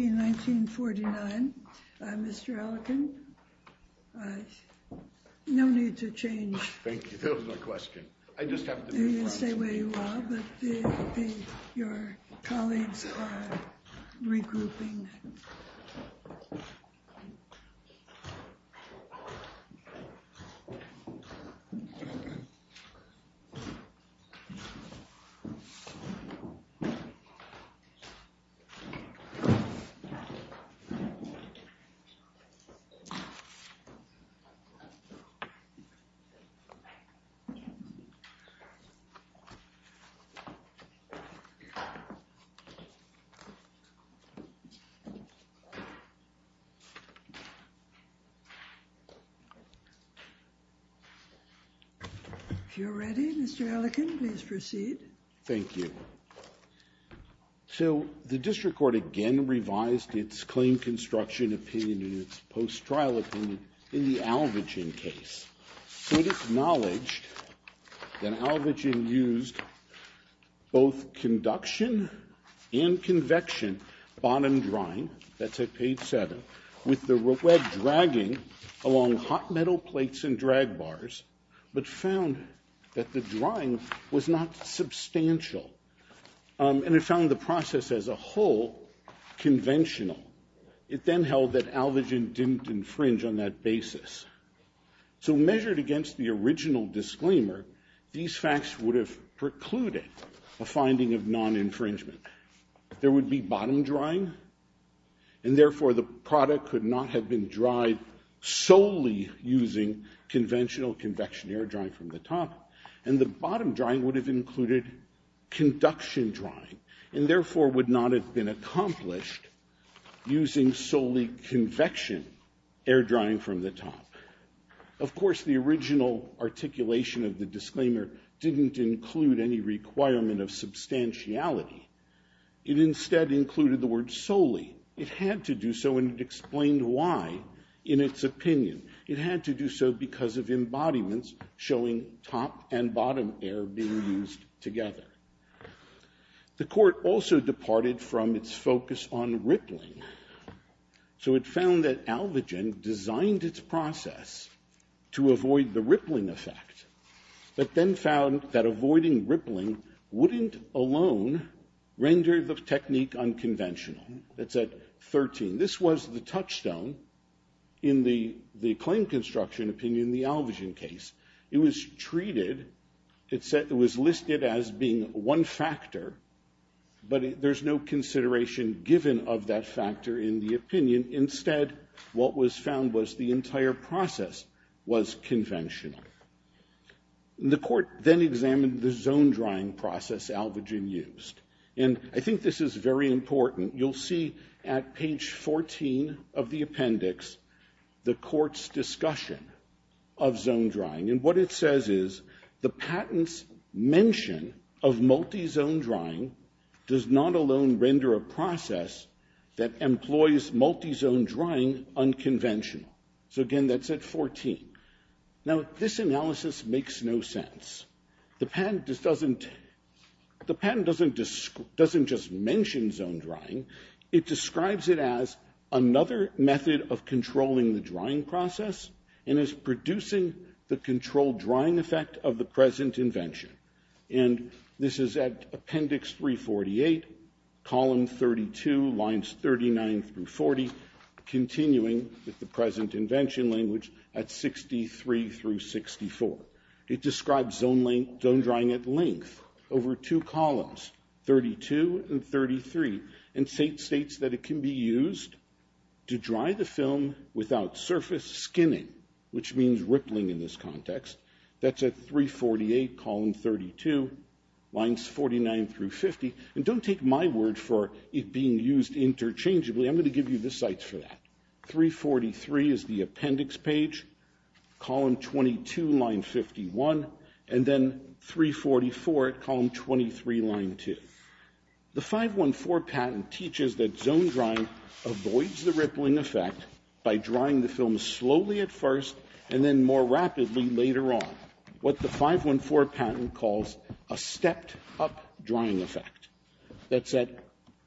...1949. Mr. Elkin, no need to change. Thank you. That was my question. I just have to... You can stay where you are, but your colleagues are regrouping. If you're ready, Mr. Elkin, please proceed. Thank you. So the district court again revised its claim construction opinion and its post-trial opinion in the Alvogen case. It acknowledged that Alvogen used both conduction and convection bottom drying, that's at page 7, with the red dragging along hot metal plates and drag bars, but found that the drying was not substantial. And it found the process as a whole conventional. It then held that Alvogen didn't infringe on that basis. So measured against the original disclaimer, these facts would have precluded a finding of non-infringement. There would be bottom drying, and therefore the product could not have been dried solely using conventional convection air drying from the top. And the bottom drying would have included conduction drying, and therefore would not have been accomplished using solely convection air drying from the top. Of course, the original articulation of the disclaimer didn't include any requirement of substantiality. It instead included the word solely. It had to do so, and it explained why in its opinion. It had to do so because of embodiments showing top and bottom air being used together. The Court also departed from its focus on rippling. So it found that Alvogen designed its process to avoid the rippling effect, but then found that avoiding rippling wouldn't alone render the technique unconventional. That's at 13. This was the touchstone in the claim construction opinion in the Alvogen case. It was treated, it was listed as being one factor, but there's no consideration given of that factor in the opinion. Instead, what was found was the entire process was conventional. The Court then examined the zone drying process Alvogen used, and I think this is very important. You'll see at page 14 of the appendix the Court's discussion of zone drying. And what it says is the patent's mention of multi-zone drying does not alone render a process that employs multi-zone drying unconventional. So, again, that's at 14. Now, this analysis makes no sense. The patent doesn't just mention zone drying. It describes it as another method of controlling the drying process and is producing the controlled drying effect of the present invention. And this is at appendix 348, column 32, lines 39 through 40, continuing with the present invention language at 63 through 64. It describes zone drying at length over two columns, 32 and 33, and states that it can be used to dry the film without surface skinning, which means rippling in this context. That's at 348, column 32, lines 49 through 50. And don't take my word for it being used interchangeably. I'm going to give you the sites for that. 343 is the appendix page, column 22, line 51, and then 344 at column 23, line 2. The 514 patent teaches that zone drying avoids the rippling effect by drying the film slowly at first and then more rapidly later on, what the 514 patent calls a stepped-up drying effect. That's at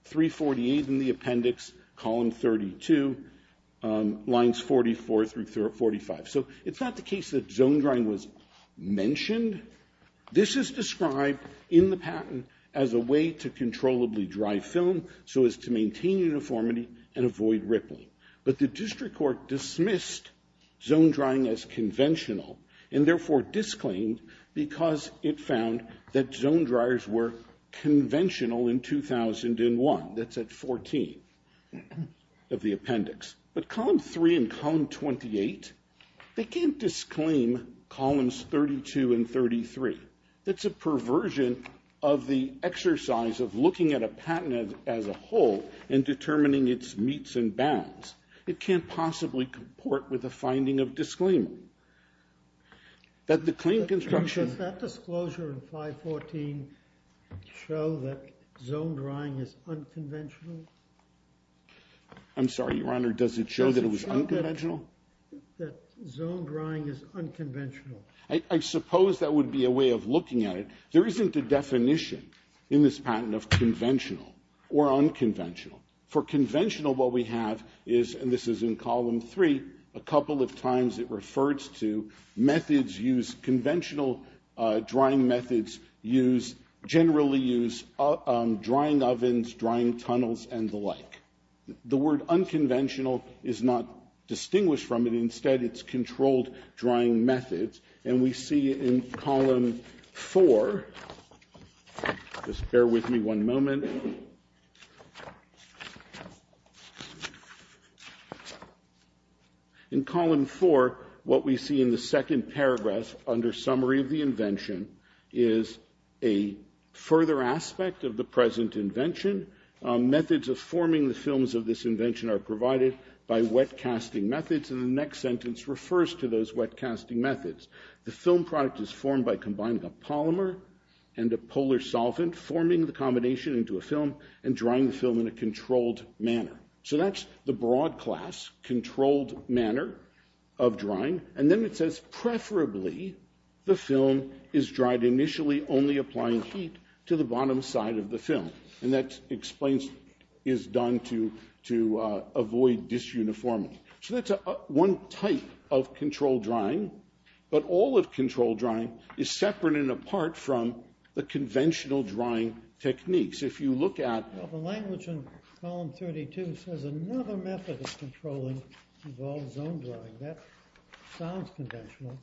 348 in the appendix, column 32, lines 44 through 45. So it's not the case that zone drying was mentioned. This is described in the patent as a way to controllably dry film so as to maintain uniformity and avoid rippling. But the district court dismissed zone drying as conventional and therefore disclaimed because it found that zone dryers were conventional in 2001. That's at 14 of the appendix. But column 3 and column 28, they can't disclaim columns 32 and 33. That's a perversion of the exercise of looking at a patent as a whole and determining its meets and bounds. It can't possibly comport with a finding of disclaimer. Does that disclosure in 514 show that zone drying is unconventional? I'm sorry, Your Honor, does it show that it was unconventional? Does it show that zone drying is unconventional? I suppose that would be a way of looking at it. There isn't a definition in this patent of conventional or unconventional. For conventional, what we have is, and this is in column 3, a couple of times it refers to methods used, conventional drying methods generally use drying ovens, drying tunnels, and the like. The word unconventional is not distinguished from it. Instead, it's controlled drying methods. And we see in column 4, just bear with me one moment. In column 4, what we see in the second paragraph under summary of the invention is a further aspect of the present invention, methods of forming the films of this invention are provided by wet casting methods, and the next sentence refers to those wet casting methods. The film product is formed by combining a polymer and a polar solvent, forming the combination into a film and drying the film in a controlled manner. So that's the broad class, controlled manner of drying. And then it says, preferably, the film is dried initially only applying heat to the bottom side of the film. And that explains, is done to avoid disuniformity. So that's one type of controlled drying. But all of controlled drying is separate and apart from the conventional drying techniques. If you look at the language in column 32, it says another method of controlling involves zone drying. That sounds conventional.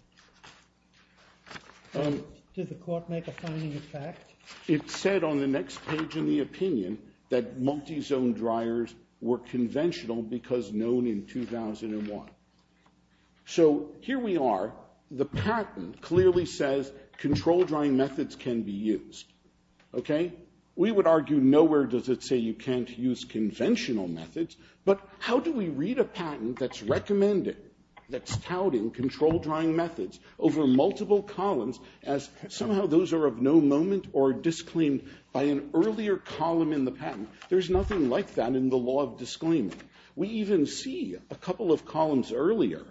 Did the court make a finding of fact? It said on the next page in the opinion that multi-zone dryers were conventional because known in 2001. So here we are. The patent clearly says controlled drying methods can be used. Okay? We would argue nowhere does it say you can't use conventional methods, but how do we read a patent that's recommending, that's touting controlled drying methods over multiple columns as somehow those are of no moment or disclaimed by an earlier column in the patent? There's nothing like that in the law of disclaiming. We even see a couple of columns earlier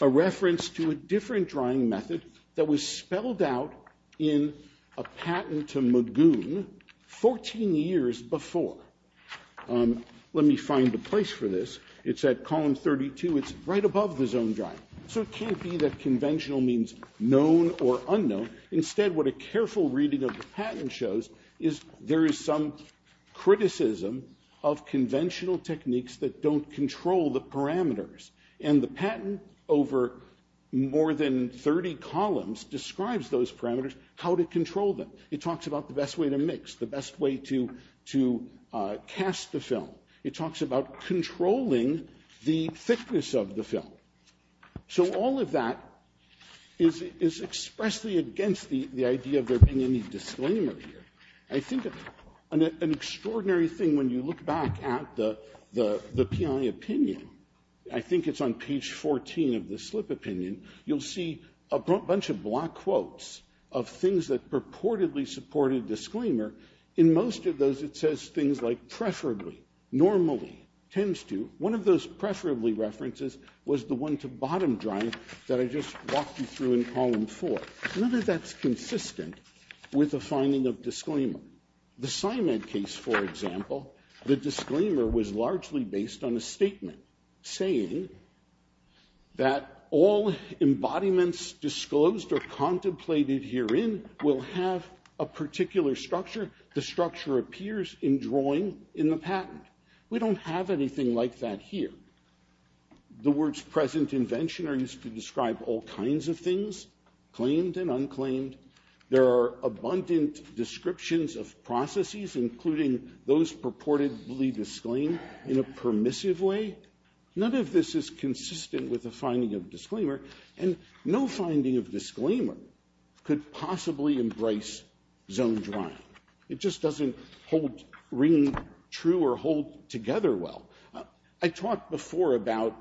a reference to a different drying method that was spelled out in a patent to Magoon 14 years before. Let me find a place for this. It's at column 32. It's right above the zone drying. So it can't be that conventional means known or unknown. Instead, what a careful reading of the patent shows is there is some criticism of conventional techniques that don't control the parameters. And the patent over more than 30 columns describes those parameters, how to control them. It talks about the best way to mix, the best way to cast the film. It talks about controlling the thickness of the film. So all of that is expressly against the idea of there being any disclaimer here. I think an extraordinary thing when you look back at the PI opinion, I think it's on page 14 of the slip opinion, you'll see a bunch of black quotes of things that purportedly support a disclaimer. In most of those, it says things like preferably, normally, tends to. One of those preferably references was the one to bottom drying that I just walked you through in column four. None of that's consistent with the finding of disclaimer. The Simon case, for example, the disclaimer was largely based on a statement saying that all embodiments disclosed or contemplated herein will have a particular structure. The structure appears in drawing in the patent. We don't have anything like that here. The words present invention are used to describe all kinds of things, claimed and unclaimed. There are abundant descriptions of processes, including those purportedly disclaimed in a permissive way. None of this is consistent with the finding of disclaimer, and no finding of disclaimer could possibly embrace zone drying. It just doesn't ring true or hold together well. I talked before about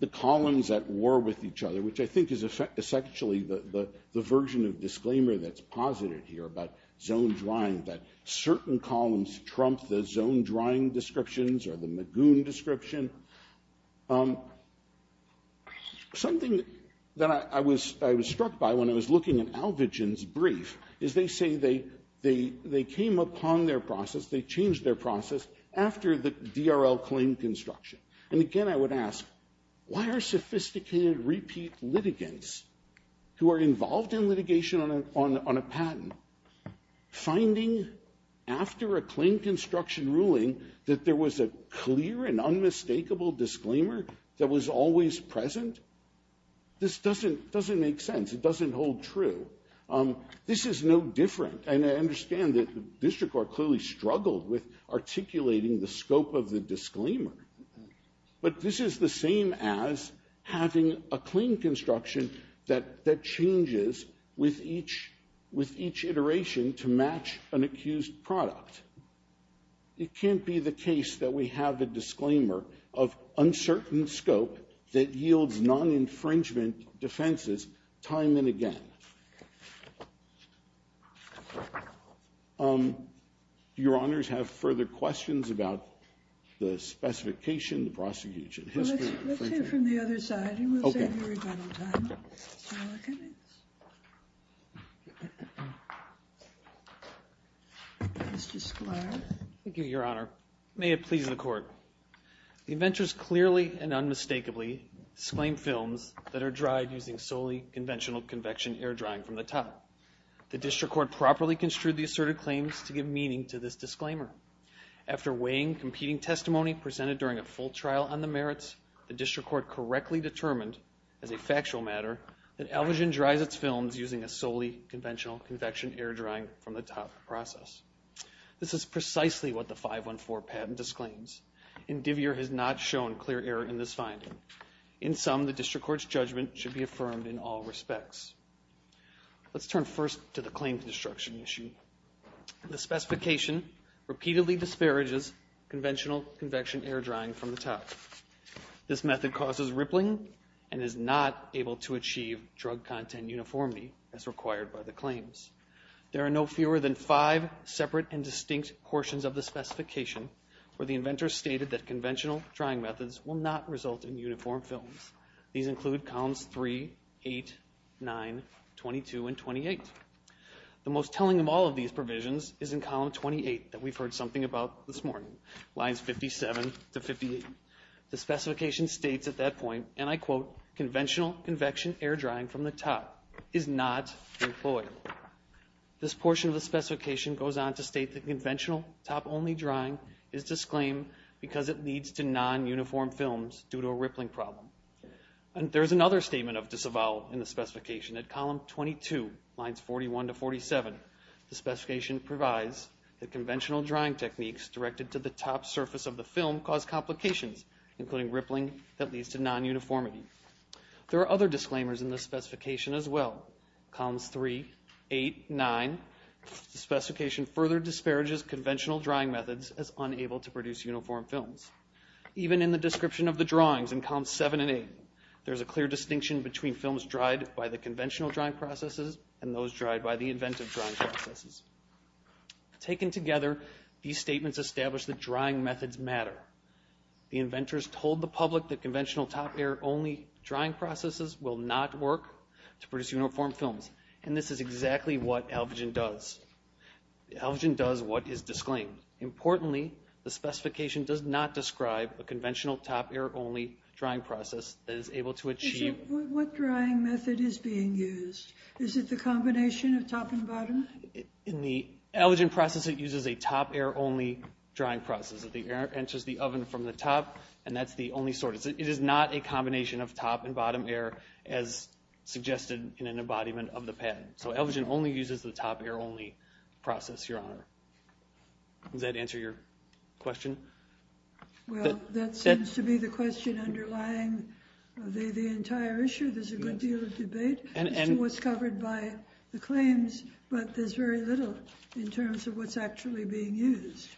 the columns at war with each other, which I think is essentially the version of disclaimer that's posited here about zone drying, that certain columns trump the zone drying descriptions or the Magoon description. Something that I was struck by when I was looking at Alvigin's brief is they say they came upon their process, they changed their process after the DRL claim construction. And again, I would ask, why are sophisticated repeat litigants who are involved in litigation on a patent finding after a claim construction ruling that there was a clear and unmistakable disclaimer that was always present? This doesn't make sense. It doesn't hold true. This is no different. And I understand that the district court clearly struggled with articulating the scope of the disclaimer. But this is the same as having a claim construction that changes with each iteration to match an accused product. It can't be the case that we have a disclaimer of uncertain scope that yields non-infringement defenses time and again. Do your honors have further questions about the specification, the prosecution history? Let's hear from the other side and we'll save you a little time. Mr. Sklar. Thank you, Your Honor. May it please the court. The inventors clearly and unmistakably disclaimed films that are dried using solely conventional convection air drying from the top. The district court properly construed the asserted claims to give meaning to this disclaimer. After weighing competing testimony presented during a full trial on the merits, the district court correctly determined as a factual matter that Elvigin dries its films using a solely conventional convection air drying from the top process. This is precisely what the 514 patent disclaims. Indivier has not shown clear error in this finding. In sum, the district court's judgment should be affirmed in all respects. Let's turn first to the claim construction issue. The specification repeatedly disparages conventional convection air drying from the top. This method causes rippling and is not able to achieve drug content uniformity as required by the claims. There are no fewer than five separate and distinct portions of the specification where the inventor stated that conventional drying methods will not result in uniform films. These include columns 3, 8, 9, 22, and 28. The most telling of all of these provisions is in column 28 that we've heard something about this morning, lines 57 to 58. The specification states at that point, and I quote, conventional convection air drying from the top is not employed. This portion of the specification goes on to state that conventional top-only drying is disclaimed because it leads to non-uniform films due to a rippling problem. There is another statement of disavowal in the specification. At column 22, lines 41 to 47, the specification provides that conventional drying techniques directed to the top surface of the film cause complications, including rippling, that leads to non-uniformity. There are other disclaimers in the specification as well. Columns 3, 8, 9, the specification further disparages conventional drying methods as unable to produce uniform films. Even in the description of the drawings in columns 7 and 8, there's a clear distinction between films dried by the conventional drying processes and those dried by the inventive drying processes. Taken together, these statements establish that drying methods matter. The inventors told the public that conventional top-air-only drying processes will not work to produce uniform films. And this is exactly what ALVGEN does. ALVGEN does what is disclaimed. Importantly, the specification does not describe a conventional top-air-only drying process that is able to achieve... What drying method is being used? Is it the combination of top and bottom? In the ALVGEN process, it uses a top-air-only drying process. The air enters the oven from the top, and that's the only source. It is not a combination of top and bottom air as suggested in an embodiment of the pattern. So ALVGEN only uses the top-air-only process, Your Honor. Does that answer your question? Well, that seems to be the question underlying the entire issue. There's a good deal of debate. And what's covered by the claims, but there's very little in terms of what's actually being used.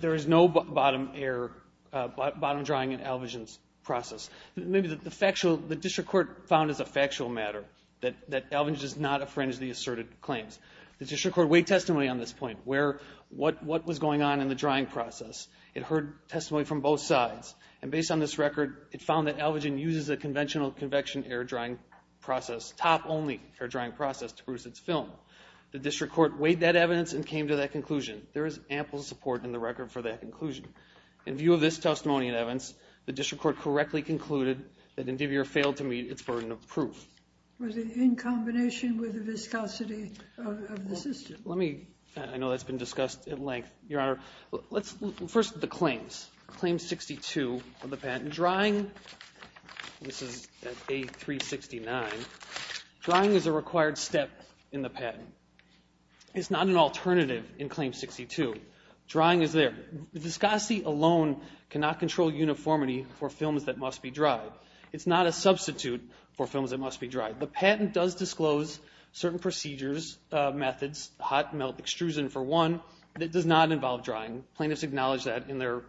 There is no bottom-air, bottom-drying in ALVGEN's process. Maybe the factual, the district court found as a factual matter that ALVGEN does not affringe the asserted claims. The district court weighed testimony on this point, where, what was going on in the drying process. It heard testimony from both sides. And based on this record, it found that ALVGEN uses a conventional convection air-drying process, top-only air-drying process, to produce its film. The district court weighed that evidence and came to that conclusion. There is ample support in the record for that conclusion. In view of this testimony and evidence, the district court correctly concluded that Indivior failed to meet its burden of proof. Was it in combination with the viscosity of the system? Let me, I know that's been discussed at length, Your Honor. First, the claims. Claim 62 of the patent. Drying, this is at A369. Drying is a required step in the patent. It's not an alternative in Claim 62. Drying is there. Viscosity alone cannot control uniformity for films that must be dried. It's not a substitute for films that must be dried. The patent does disclose certain procedures, methods, hot melt extrusion for one, that does not involve drying. Plaintiffs acknowledge that in their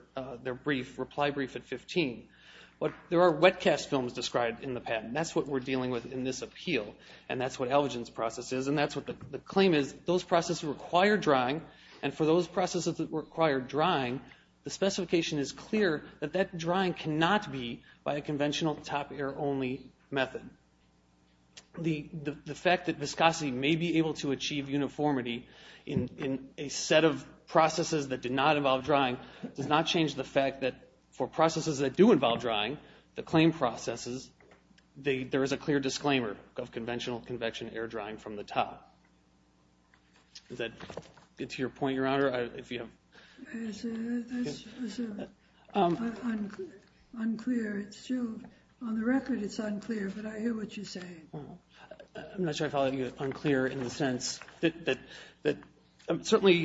brief, reply brief at 15. But there are wet-cast films described in the patent. That's what we're dealing with in this appeal, and that's what ALVGEN's process is, and that's what the claim is. Those processes require drying, and for those processes that require drying, the specification is clear that that drying cannot be by a conventional top air only method. The fact that viscosity may be able to achieve uniformity in a set of processes that do not involve drying does not change the fact that for processes that do involve drying, the claim processes, there is a clear disclaimer of conventional convection air drying from the top. That's unclear. On the record, it's unclear, but I hear what you're saying. I'm not sure I follow you unclear in the sense that certainly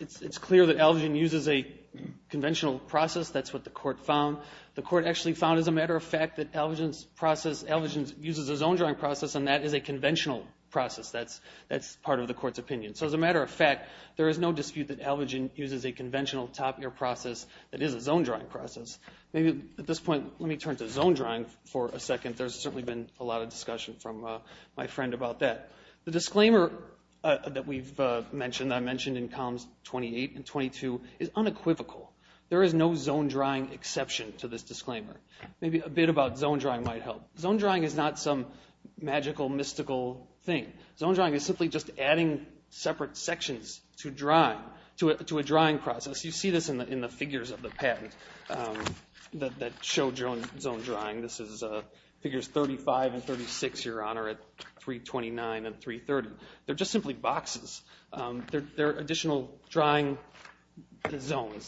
it's clear that ALVGEN uses a conventional process. That's what the court found. The court actually found, as a matter of fact, that ALVGEN uses its own drying process, and that is a conventional process. That's part of the court's opinion. So as a matter of fact, there is no dispute that ALVGEN uses a conventional top air process that is its own drying process. At this point, let me turn to zone drying for a second. There's certainly been a lot of discussion from my friend about that. The disclaimer that we've mentioned, that I mentioned in columns 28 and 22, is unequivocal. There is no zone drying exception to this disclaimer. Maybe a bit about zone drying might help. Zone drying is not some magical, mystical thing. Zone drying is simply just adding separate sections to a drying process. You see this in the figures of the patent that show zone drying. This is figures 35 and 36, Your Honor, at 329 and 330. They're just simply boxes. They're additional drying zones.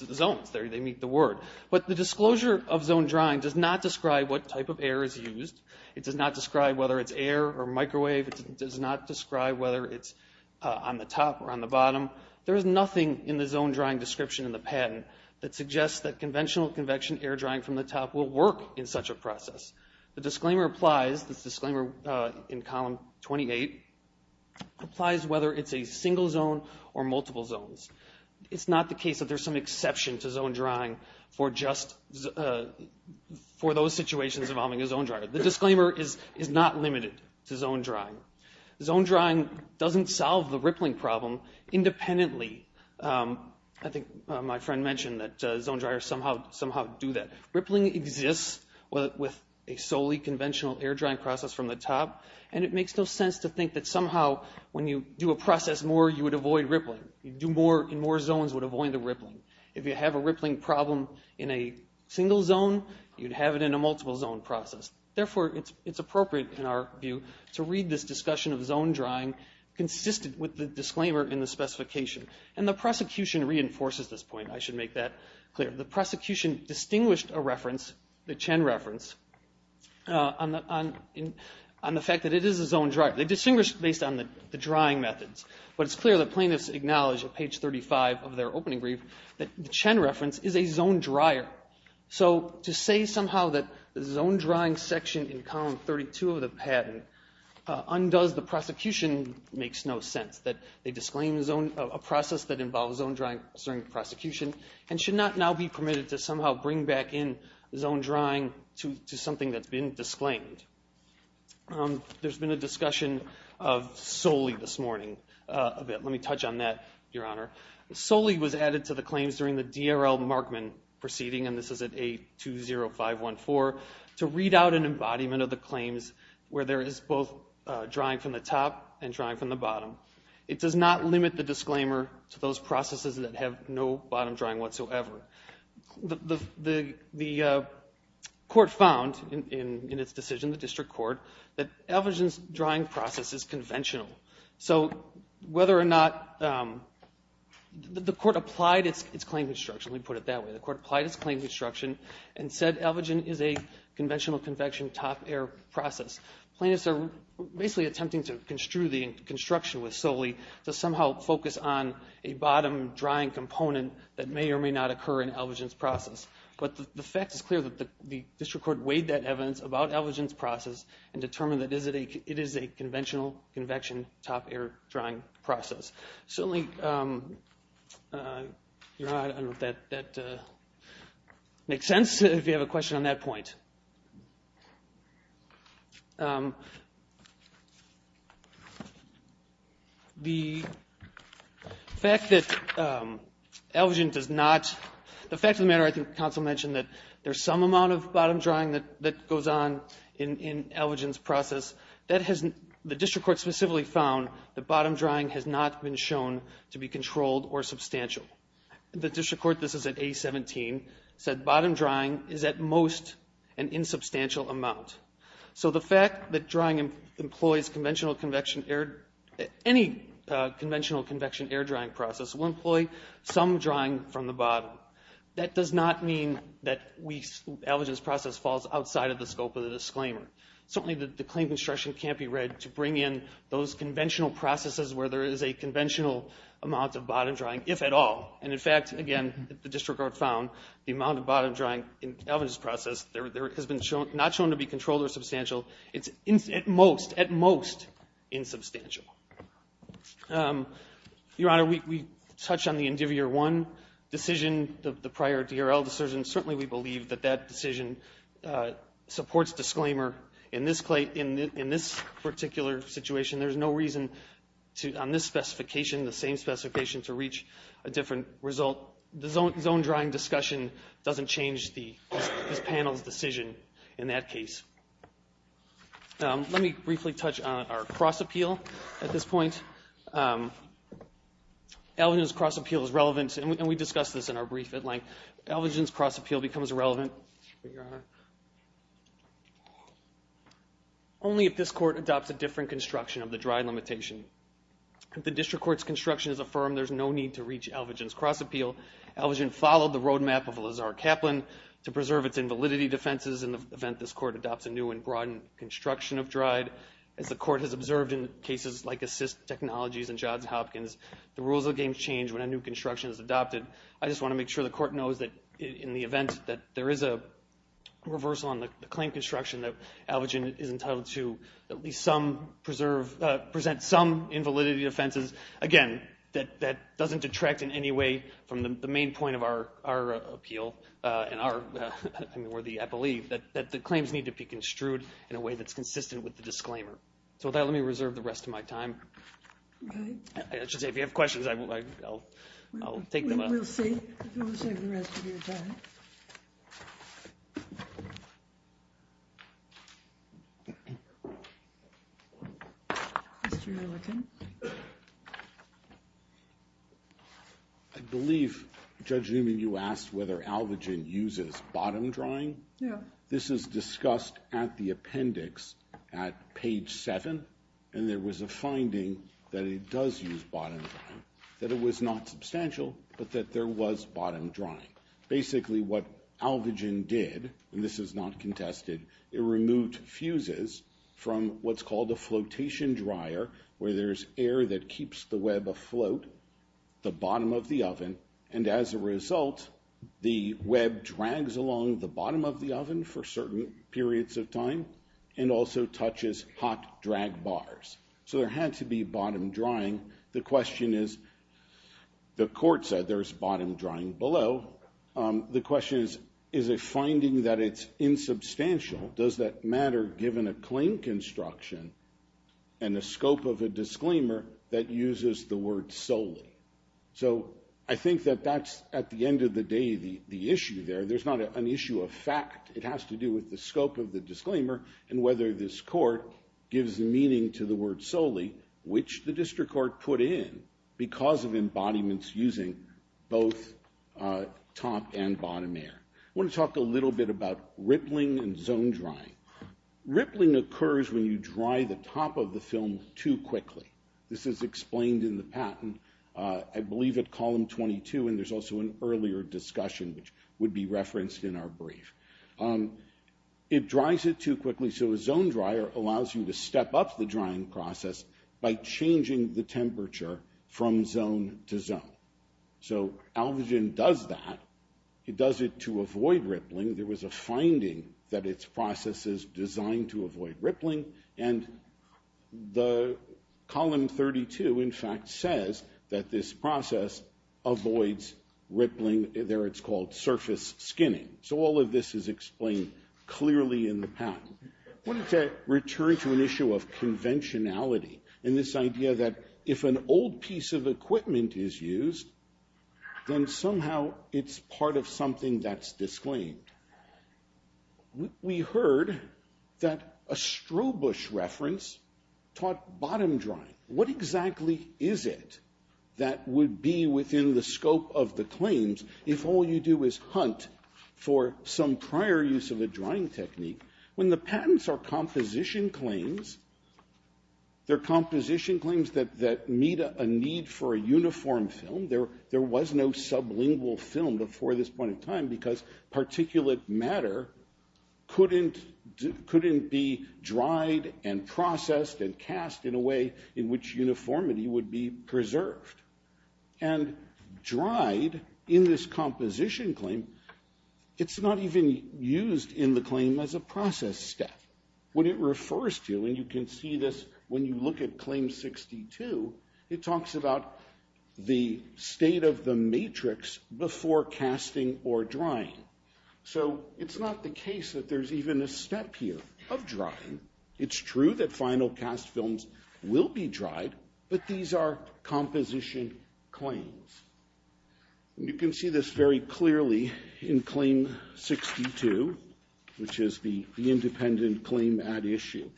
They meet the word. But the disclosure of zone drying does not describe what type of air is used. It does not describe whether it's air or microwave. It does not describe whether it's on the top or on the bottom. There is nothing in the zone drying description in the patent that suggests that conventional convection air drying from the top will work in such a process. The disclaimer applies, this disclaimer in column 28, applies whether it's a single zone or multiple zones. It's not the case that there's some exception to zone drying for those situations involving a zone dryer. The disclaimer is not limited to zone drying. Zone drying doesn't solve the rippling problem independently. I think my friend mentioned that zone dryers somehow do that. Rippling exists with a solely conventional air drying process from the top, and it makes no sense to think that somehow when you do a process more, you would avoid rippling. You do more in more zones would avoid the rippling. If you have a rippling problem in a single zone, you'd have it in a multiple zone process. Therefore, it's appropriate in our view to read this discussion of zone drying consistent with the disclaimer in the specification. And the prosecution reinforces this point. I should make that clear. The prosecution distinguished a reference, the Chen reference, on the fact that it is a zone dryer. They distinguished based on the drying methods. But it's clear that plaintiffs acknowledge at page 35 of their opening brief that the Chen reference is a zone dryer. So to say somehow that the zone drying section in column 32 of the patent undoes the prosecution makes no sense, that they disclaim a process that involves zone drying during the prosecution and should not now be permitted to somehow bring back in zone drying to something that's been disclaimed. There's been a discussion of Soli this morning. Let me touch on that, Your Honor. Soli was added to the claims during the DRL Markman proceeding, and this is at A20514, to read out an embodiment of the claims where there is both drying from the top and drying from the bottom. It does not limit the disclaimer to those processes that have no bottom drying whatsoever. The court found in its decision, the district court, that Elvigin's drying process is conventional. So whether or not the court applied its claim construction, let me put it that way, the court applied its claim construction and said Elvigin is a conventional convection top air process. Plaintiffs are basically attempting to construe the construction with Soli to somehow focus on a bottom drying component that may or may not occur in Elvigin's process. But the fact is clear that the district court weighed that evidence about Elvigin's process and determined that it is a conventional convection top air drying process. Certainly, Your Honor, I don't know if that makes sense, if you have a question on that point. The fact that Elvigin does not, the fact of the matter, I think counsel mentioned that there's some amount of bottom drying that goes on in Elvigin's process. The district court specifically found that bottom drying has not been shown to be controlled or substantial. The district court, this is at A17, said bottom drying is at most an insubstantial amount. So the fact that drying employs conventional convection air, any conventional convection air drying process will employ some drying from the bottom. That does not mean that Elvigin's process falls outside of the scope of the disclaimer. Certainly, the claim construction can't be read to bring in those conventional processes where there is a conventional amount of bottom drying, if at all. And in fact, again, the district court found the amount of bottom drying in Elvigin's process has not been shown to be controlled or substantial. It's at most, at most, insubstantial. Your Honor, we touched on the Indivier 1 decision, the prior DRL decision. Certainly, we believe that that decision supports disclaimer. In this particular situation, there's no reason on this specification, the same specification, to reach a different result. The zone drying discussion doesn't change this panel's decision in that case. Let me briefly touch on our cross appeal at this point. Elvigin's cross appeal is relevant, and we discussed this in our brief at length. Elvigin's cross appeal becomes relevant. Your Honor, only if this court adopts a different construction of the dry limitation. If the district court's construction is affirmed, there's no need to reach Elvigin's cross appeal. Elvigin followed the roadmap of Lazar Kaplan to preserve its invalidity defenses. In the event this court adopts a new and broad construction of dried, as the court has observed in cases like Assist Technologies and Johns Hopkins, the rules of the game change when a new construction is adopted. I just want to make sure the court knows that in the event that there is a reversal on the claim construction, that Elvigin is entitled to at least present some invalidity defenses. Again, that doesn't detract in any way from the main point of our appeal, and I believe that the claims need to be construed in a way that's consistent with the disclaimer. With that, let me reserve the rest of my time. I should say, if you have questions, I'll take them up. We'll save the rest of your time. I believe, Judge Newman, you asked whether Elvigin uses bottom drying? Yeah. This is discussed at the appendix at page seven, and there was a finding that it does use bottom drying, that it was not substantial, but that there was bottom drying. Basically, what Elvigin did, and this is not contested, it removed fuses from what's called a flotation dryer, where there's air that keeps the web afloat, the bottom of the oven, and as a result, the web drags along the bottom of the oven for certain periods of time and also touches hot drag bars. So there had to be bottom drying. The question is, the court said there's bottom drying below. The question is, is it finding that it's insubstantial? Does that matter given a claim construction and the scope of a disclaimer that uses the word solely? So I think that that's, at the end of the day, the issue there. There's not an issue of fact. It has to do with the scope of the disclaimer and whether this court gives meaning to the word solely, which the district court put in because of embodiments using both top and bottom air. I want to talk a little bit about rippling and zone drying. Rippling occurs when you dry the top of the film too quickly. This is explained in the patent, I believe, at Column 22, and there's also an earlier discussion which would be referenced in our brief. It dries it too quickly, so a zone dryer allows you to step up the drying process by changing the temperature from zone to zone. So Alvagen does that. It does it to avoid rippling. There was a finding that its process is designed to avoid rippling, and Column 32, in fact, says that this process avoids rippling. There it's called surface skinning. So all of this is explained clearly in the patent. I wanted to return to an issue of conventionality and this idea that if an old piece of equipment is used, then somehow it's part of something that's disclaimed. We heard that a Strohbusch reference taught bottom drying. What exactly is it that would be within the scope of the claims if all you do is hunt for some prior use of a drying technique? When the patents are composition claims, they're composition claims that meet a need for a uniform film. There was no sublingual film before this point in time because particulate matter couldn't be dried and processed and cast in a way in which uniformity would be preserved. And dried, in this composition claim, it's not even used in the claim as a process step. What it refers to, and you can see this when you look at Claim 62, it talks about the state of the matrix before casting or drying. So it's not the case that there's even a step here of drying. It's true that final cast films will be dried, but these are composition claims. And you can see this very clearly in Claim 62, which is the independent claim at issue.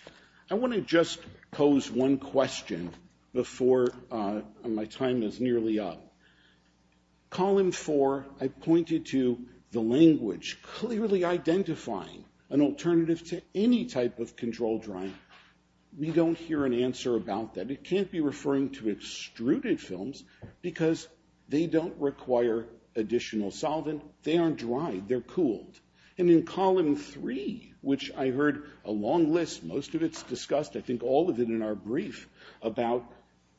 I want to just pose one question before my time is nearly up. Column 4, I pointed to the language clearly identifying an alternative to any type of control drying. We don't hear an answer about that. It can't be referring to extruded films because they don't require additional solvent. They aren't dried. They're cooled. And in Column 3, which I heard a long list, most of it's discussed. I think all of it in our brief about,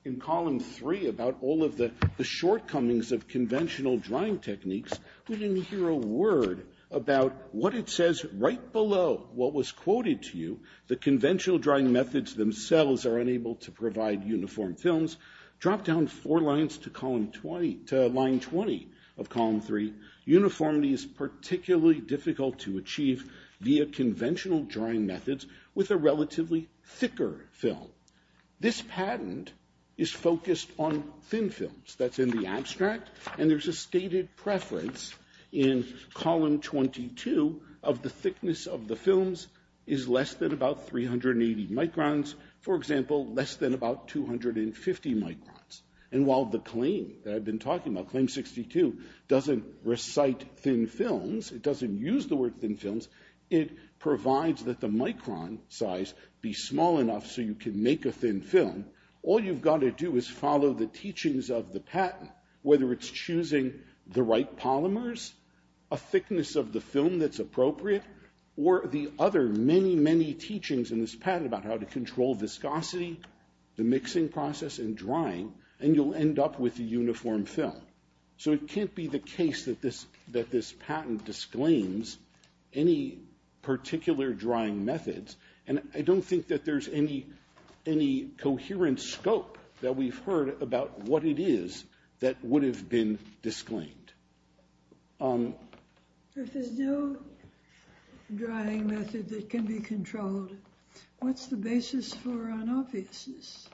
in Column 3, about all of the shortcomings of conventional drying techniques, we didn't hear a word about what it says right below what was quoted to you. The conventional drying methods themselves are unable to provide uniform films. Drop down four lines to Column 20, to Line 20 of Column 3. Uniformity is particularly difficult to achieve via conventional drying methods with a relatively thicker film. This patent is focused on thin films. That's in the abstract, and there's a stated preference in Column 22 of the thickness of the films is less than about 380 microns, for example, less than about 250 microns. And while the claim that I've been talking about, Claim 62, doesn't recite thin films, it doesn't use the word thin films, it provides that the micron size be small enough so you can make a thin film. All you've got to do is follow the teachings of the patent, whether it's choosing the right polymers, a thickness of the film that's appropriate, or the other many, many teachings in this patent about how to control viscosity, the mixing process, and drying, and you'll end up with a uniform film. So it can't be the case that this patent disclaims any particular drying methods, and I don't think that there's any coherent scope that we've heard about what it is that would have been disclaimed. If there's no drying method that can be controlled, what's the basis for unobviousness?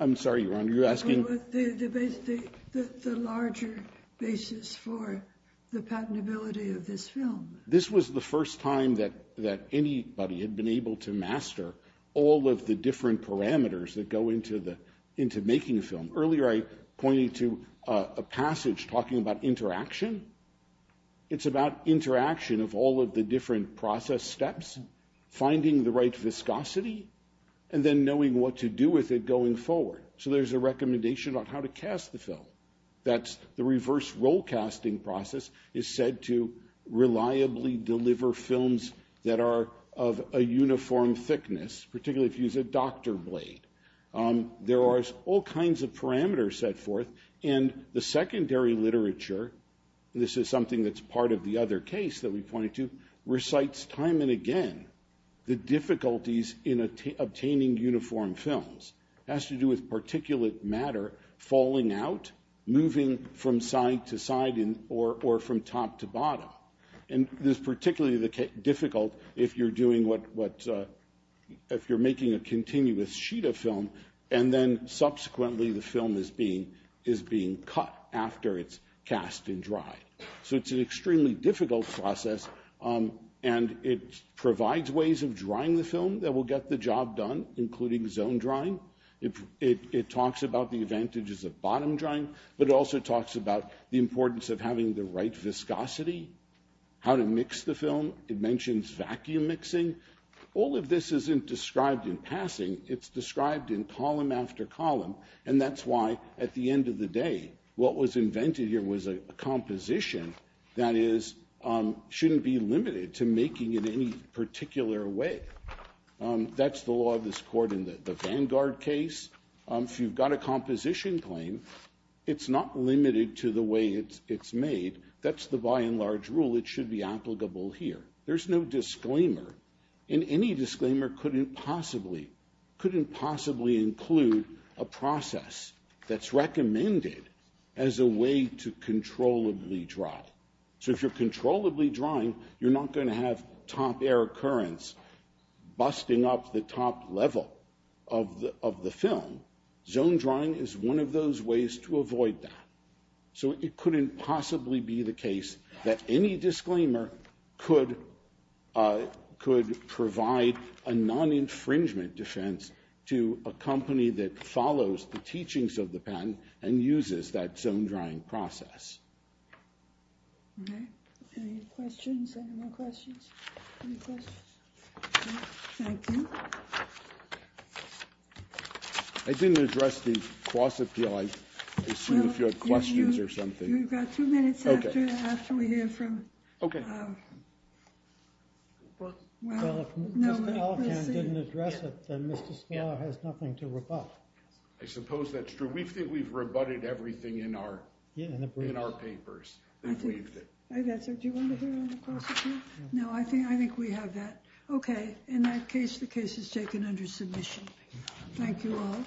I'm sorry, Your Honor, you're asking? The larger basis for the patentability of this film. This was the first time that anybody had been able to master all of the different parameters that go into making a film. Earlier I pointed to a passage talking about interaction. It's about interaction of all of the different process steps, finding the right viscosity, and then knowing what to do with it going forward. So there's a recommendation on how to cast the film. That's the reverse roll casting process is said to reliably deliver films that are of a uniform thickness, particularly if you use a doctor blade. There are all kinds of parameters set forth, and the secondary literature, and this is something that's part of the other case that we pointed to, recites time and again the difficulties in obtaining uniform films. It has to do with particulate matter falling out, moving from side to side or from top to bottom. And this is particularly difficult if you're doing what, if you're making a continuous sheet of film, and then subsequently the film is being cut after it's cast and dried. So it's an extremely difficult process, and it provides ways of drying the film that will get the job done, including zone drying. It talks about the advantages of bottom drying, but it also talks about the importance of having the right viscosity, how to mix the film. It mentions vacuum mixing. All of this isn't described in passing. It's described in column after column, and that's why at the end of the day what was invented here was a composition that shouldn't be limited to making it any particular way. That's the law of this court in the Vanguard case. If you've got a composition claim, it's not limited to the way it's made. That's the by and large rule. It should be applicable here. There's no disclaimer, and any disclaimer couldn't possibly include a process that's recommended as a way to controllably dry. So if you're controllably drying, you're not going to have top air occurrence busting up the top level of the film. Zone drying is one of those ways to avoid that. So it couldn't possibly be the case that any disclaimer could provide a non-infringement defense to a company that follows the teachings of the patent and uses that zone drying process. Okay. Any questions? Any more questions? Any questions? Okay. Thank you. I didn't address the cross-appeal. I assume if you have questions or something. You've got two minutes after we hear from. Okay. Well, if Mr. Elkin didn't address it, then Mr. Smaller has nothing to rebut. I suppose that's true. We think we've rebutted everything in our papers. I've answered. Do you want to hear on the cross-appeal? No, I think we have that. Okay. In that case, the case is taken under submission. Thank you all.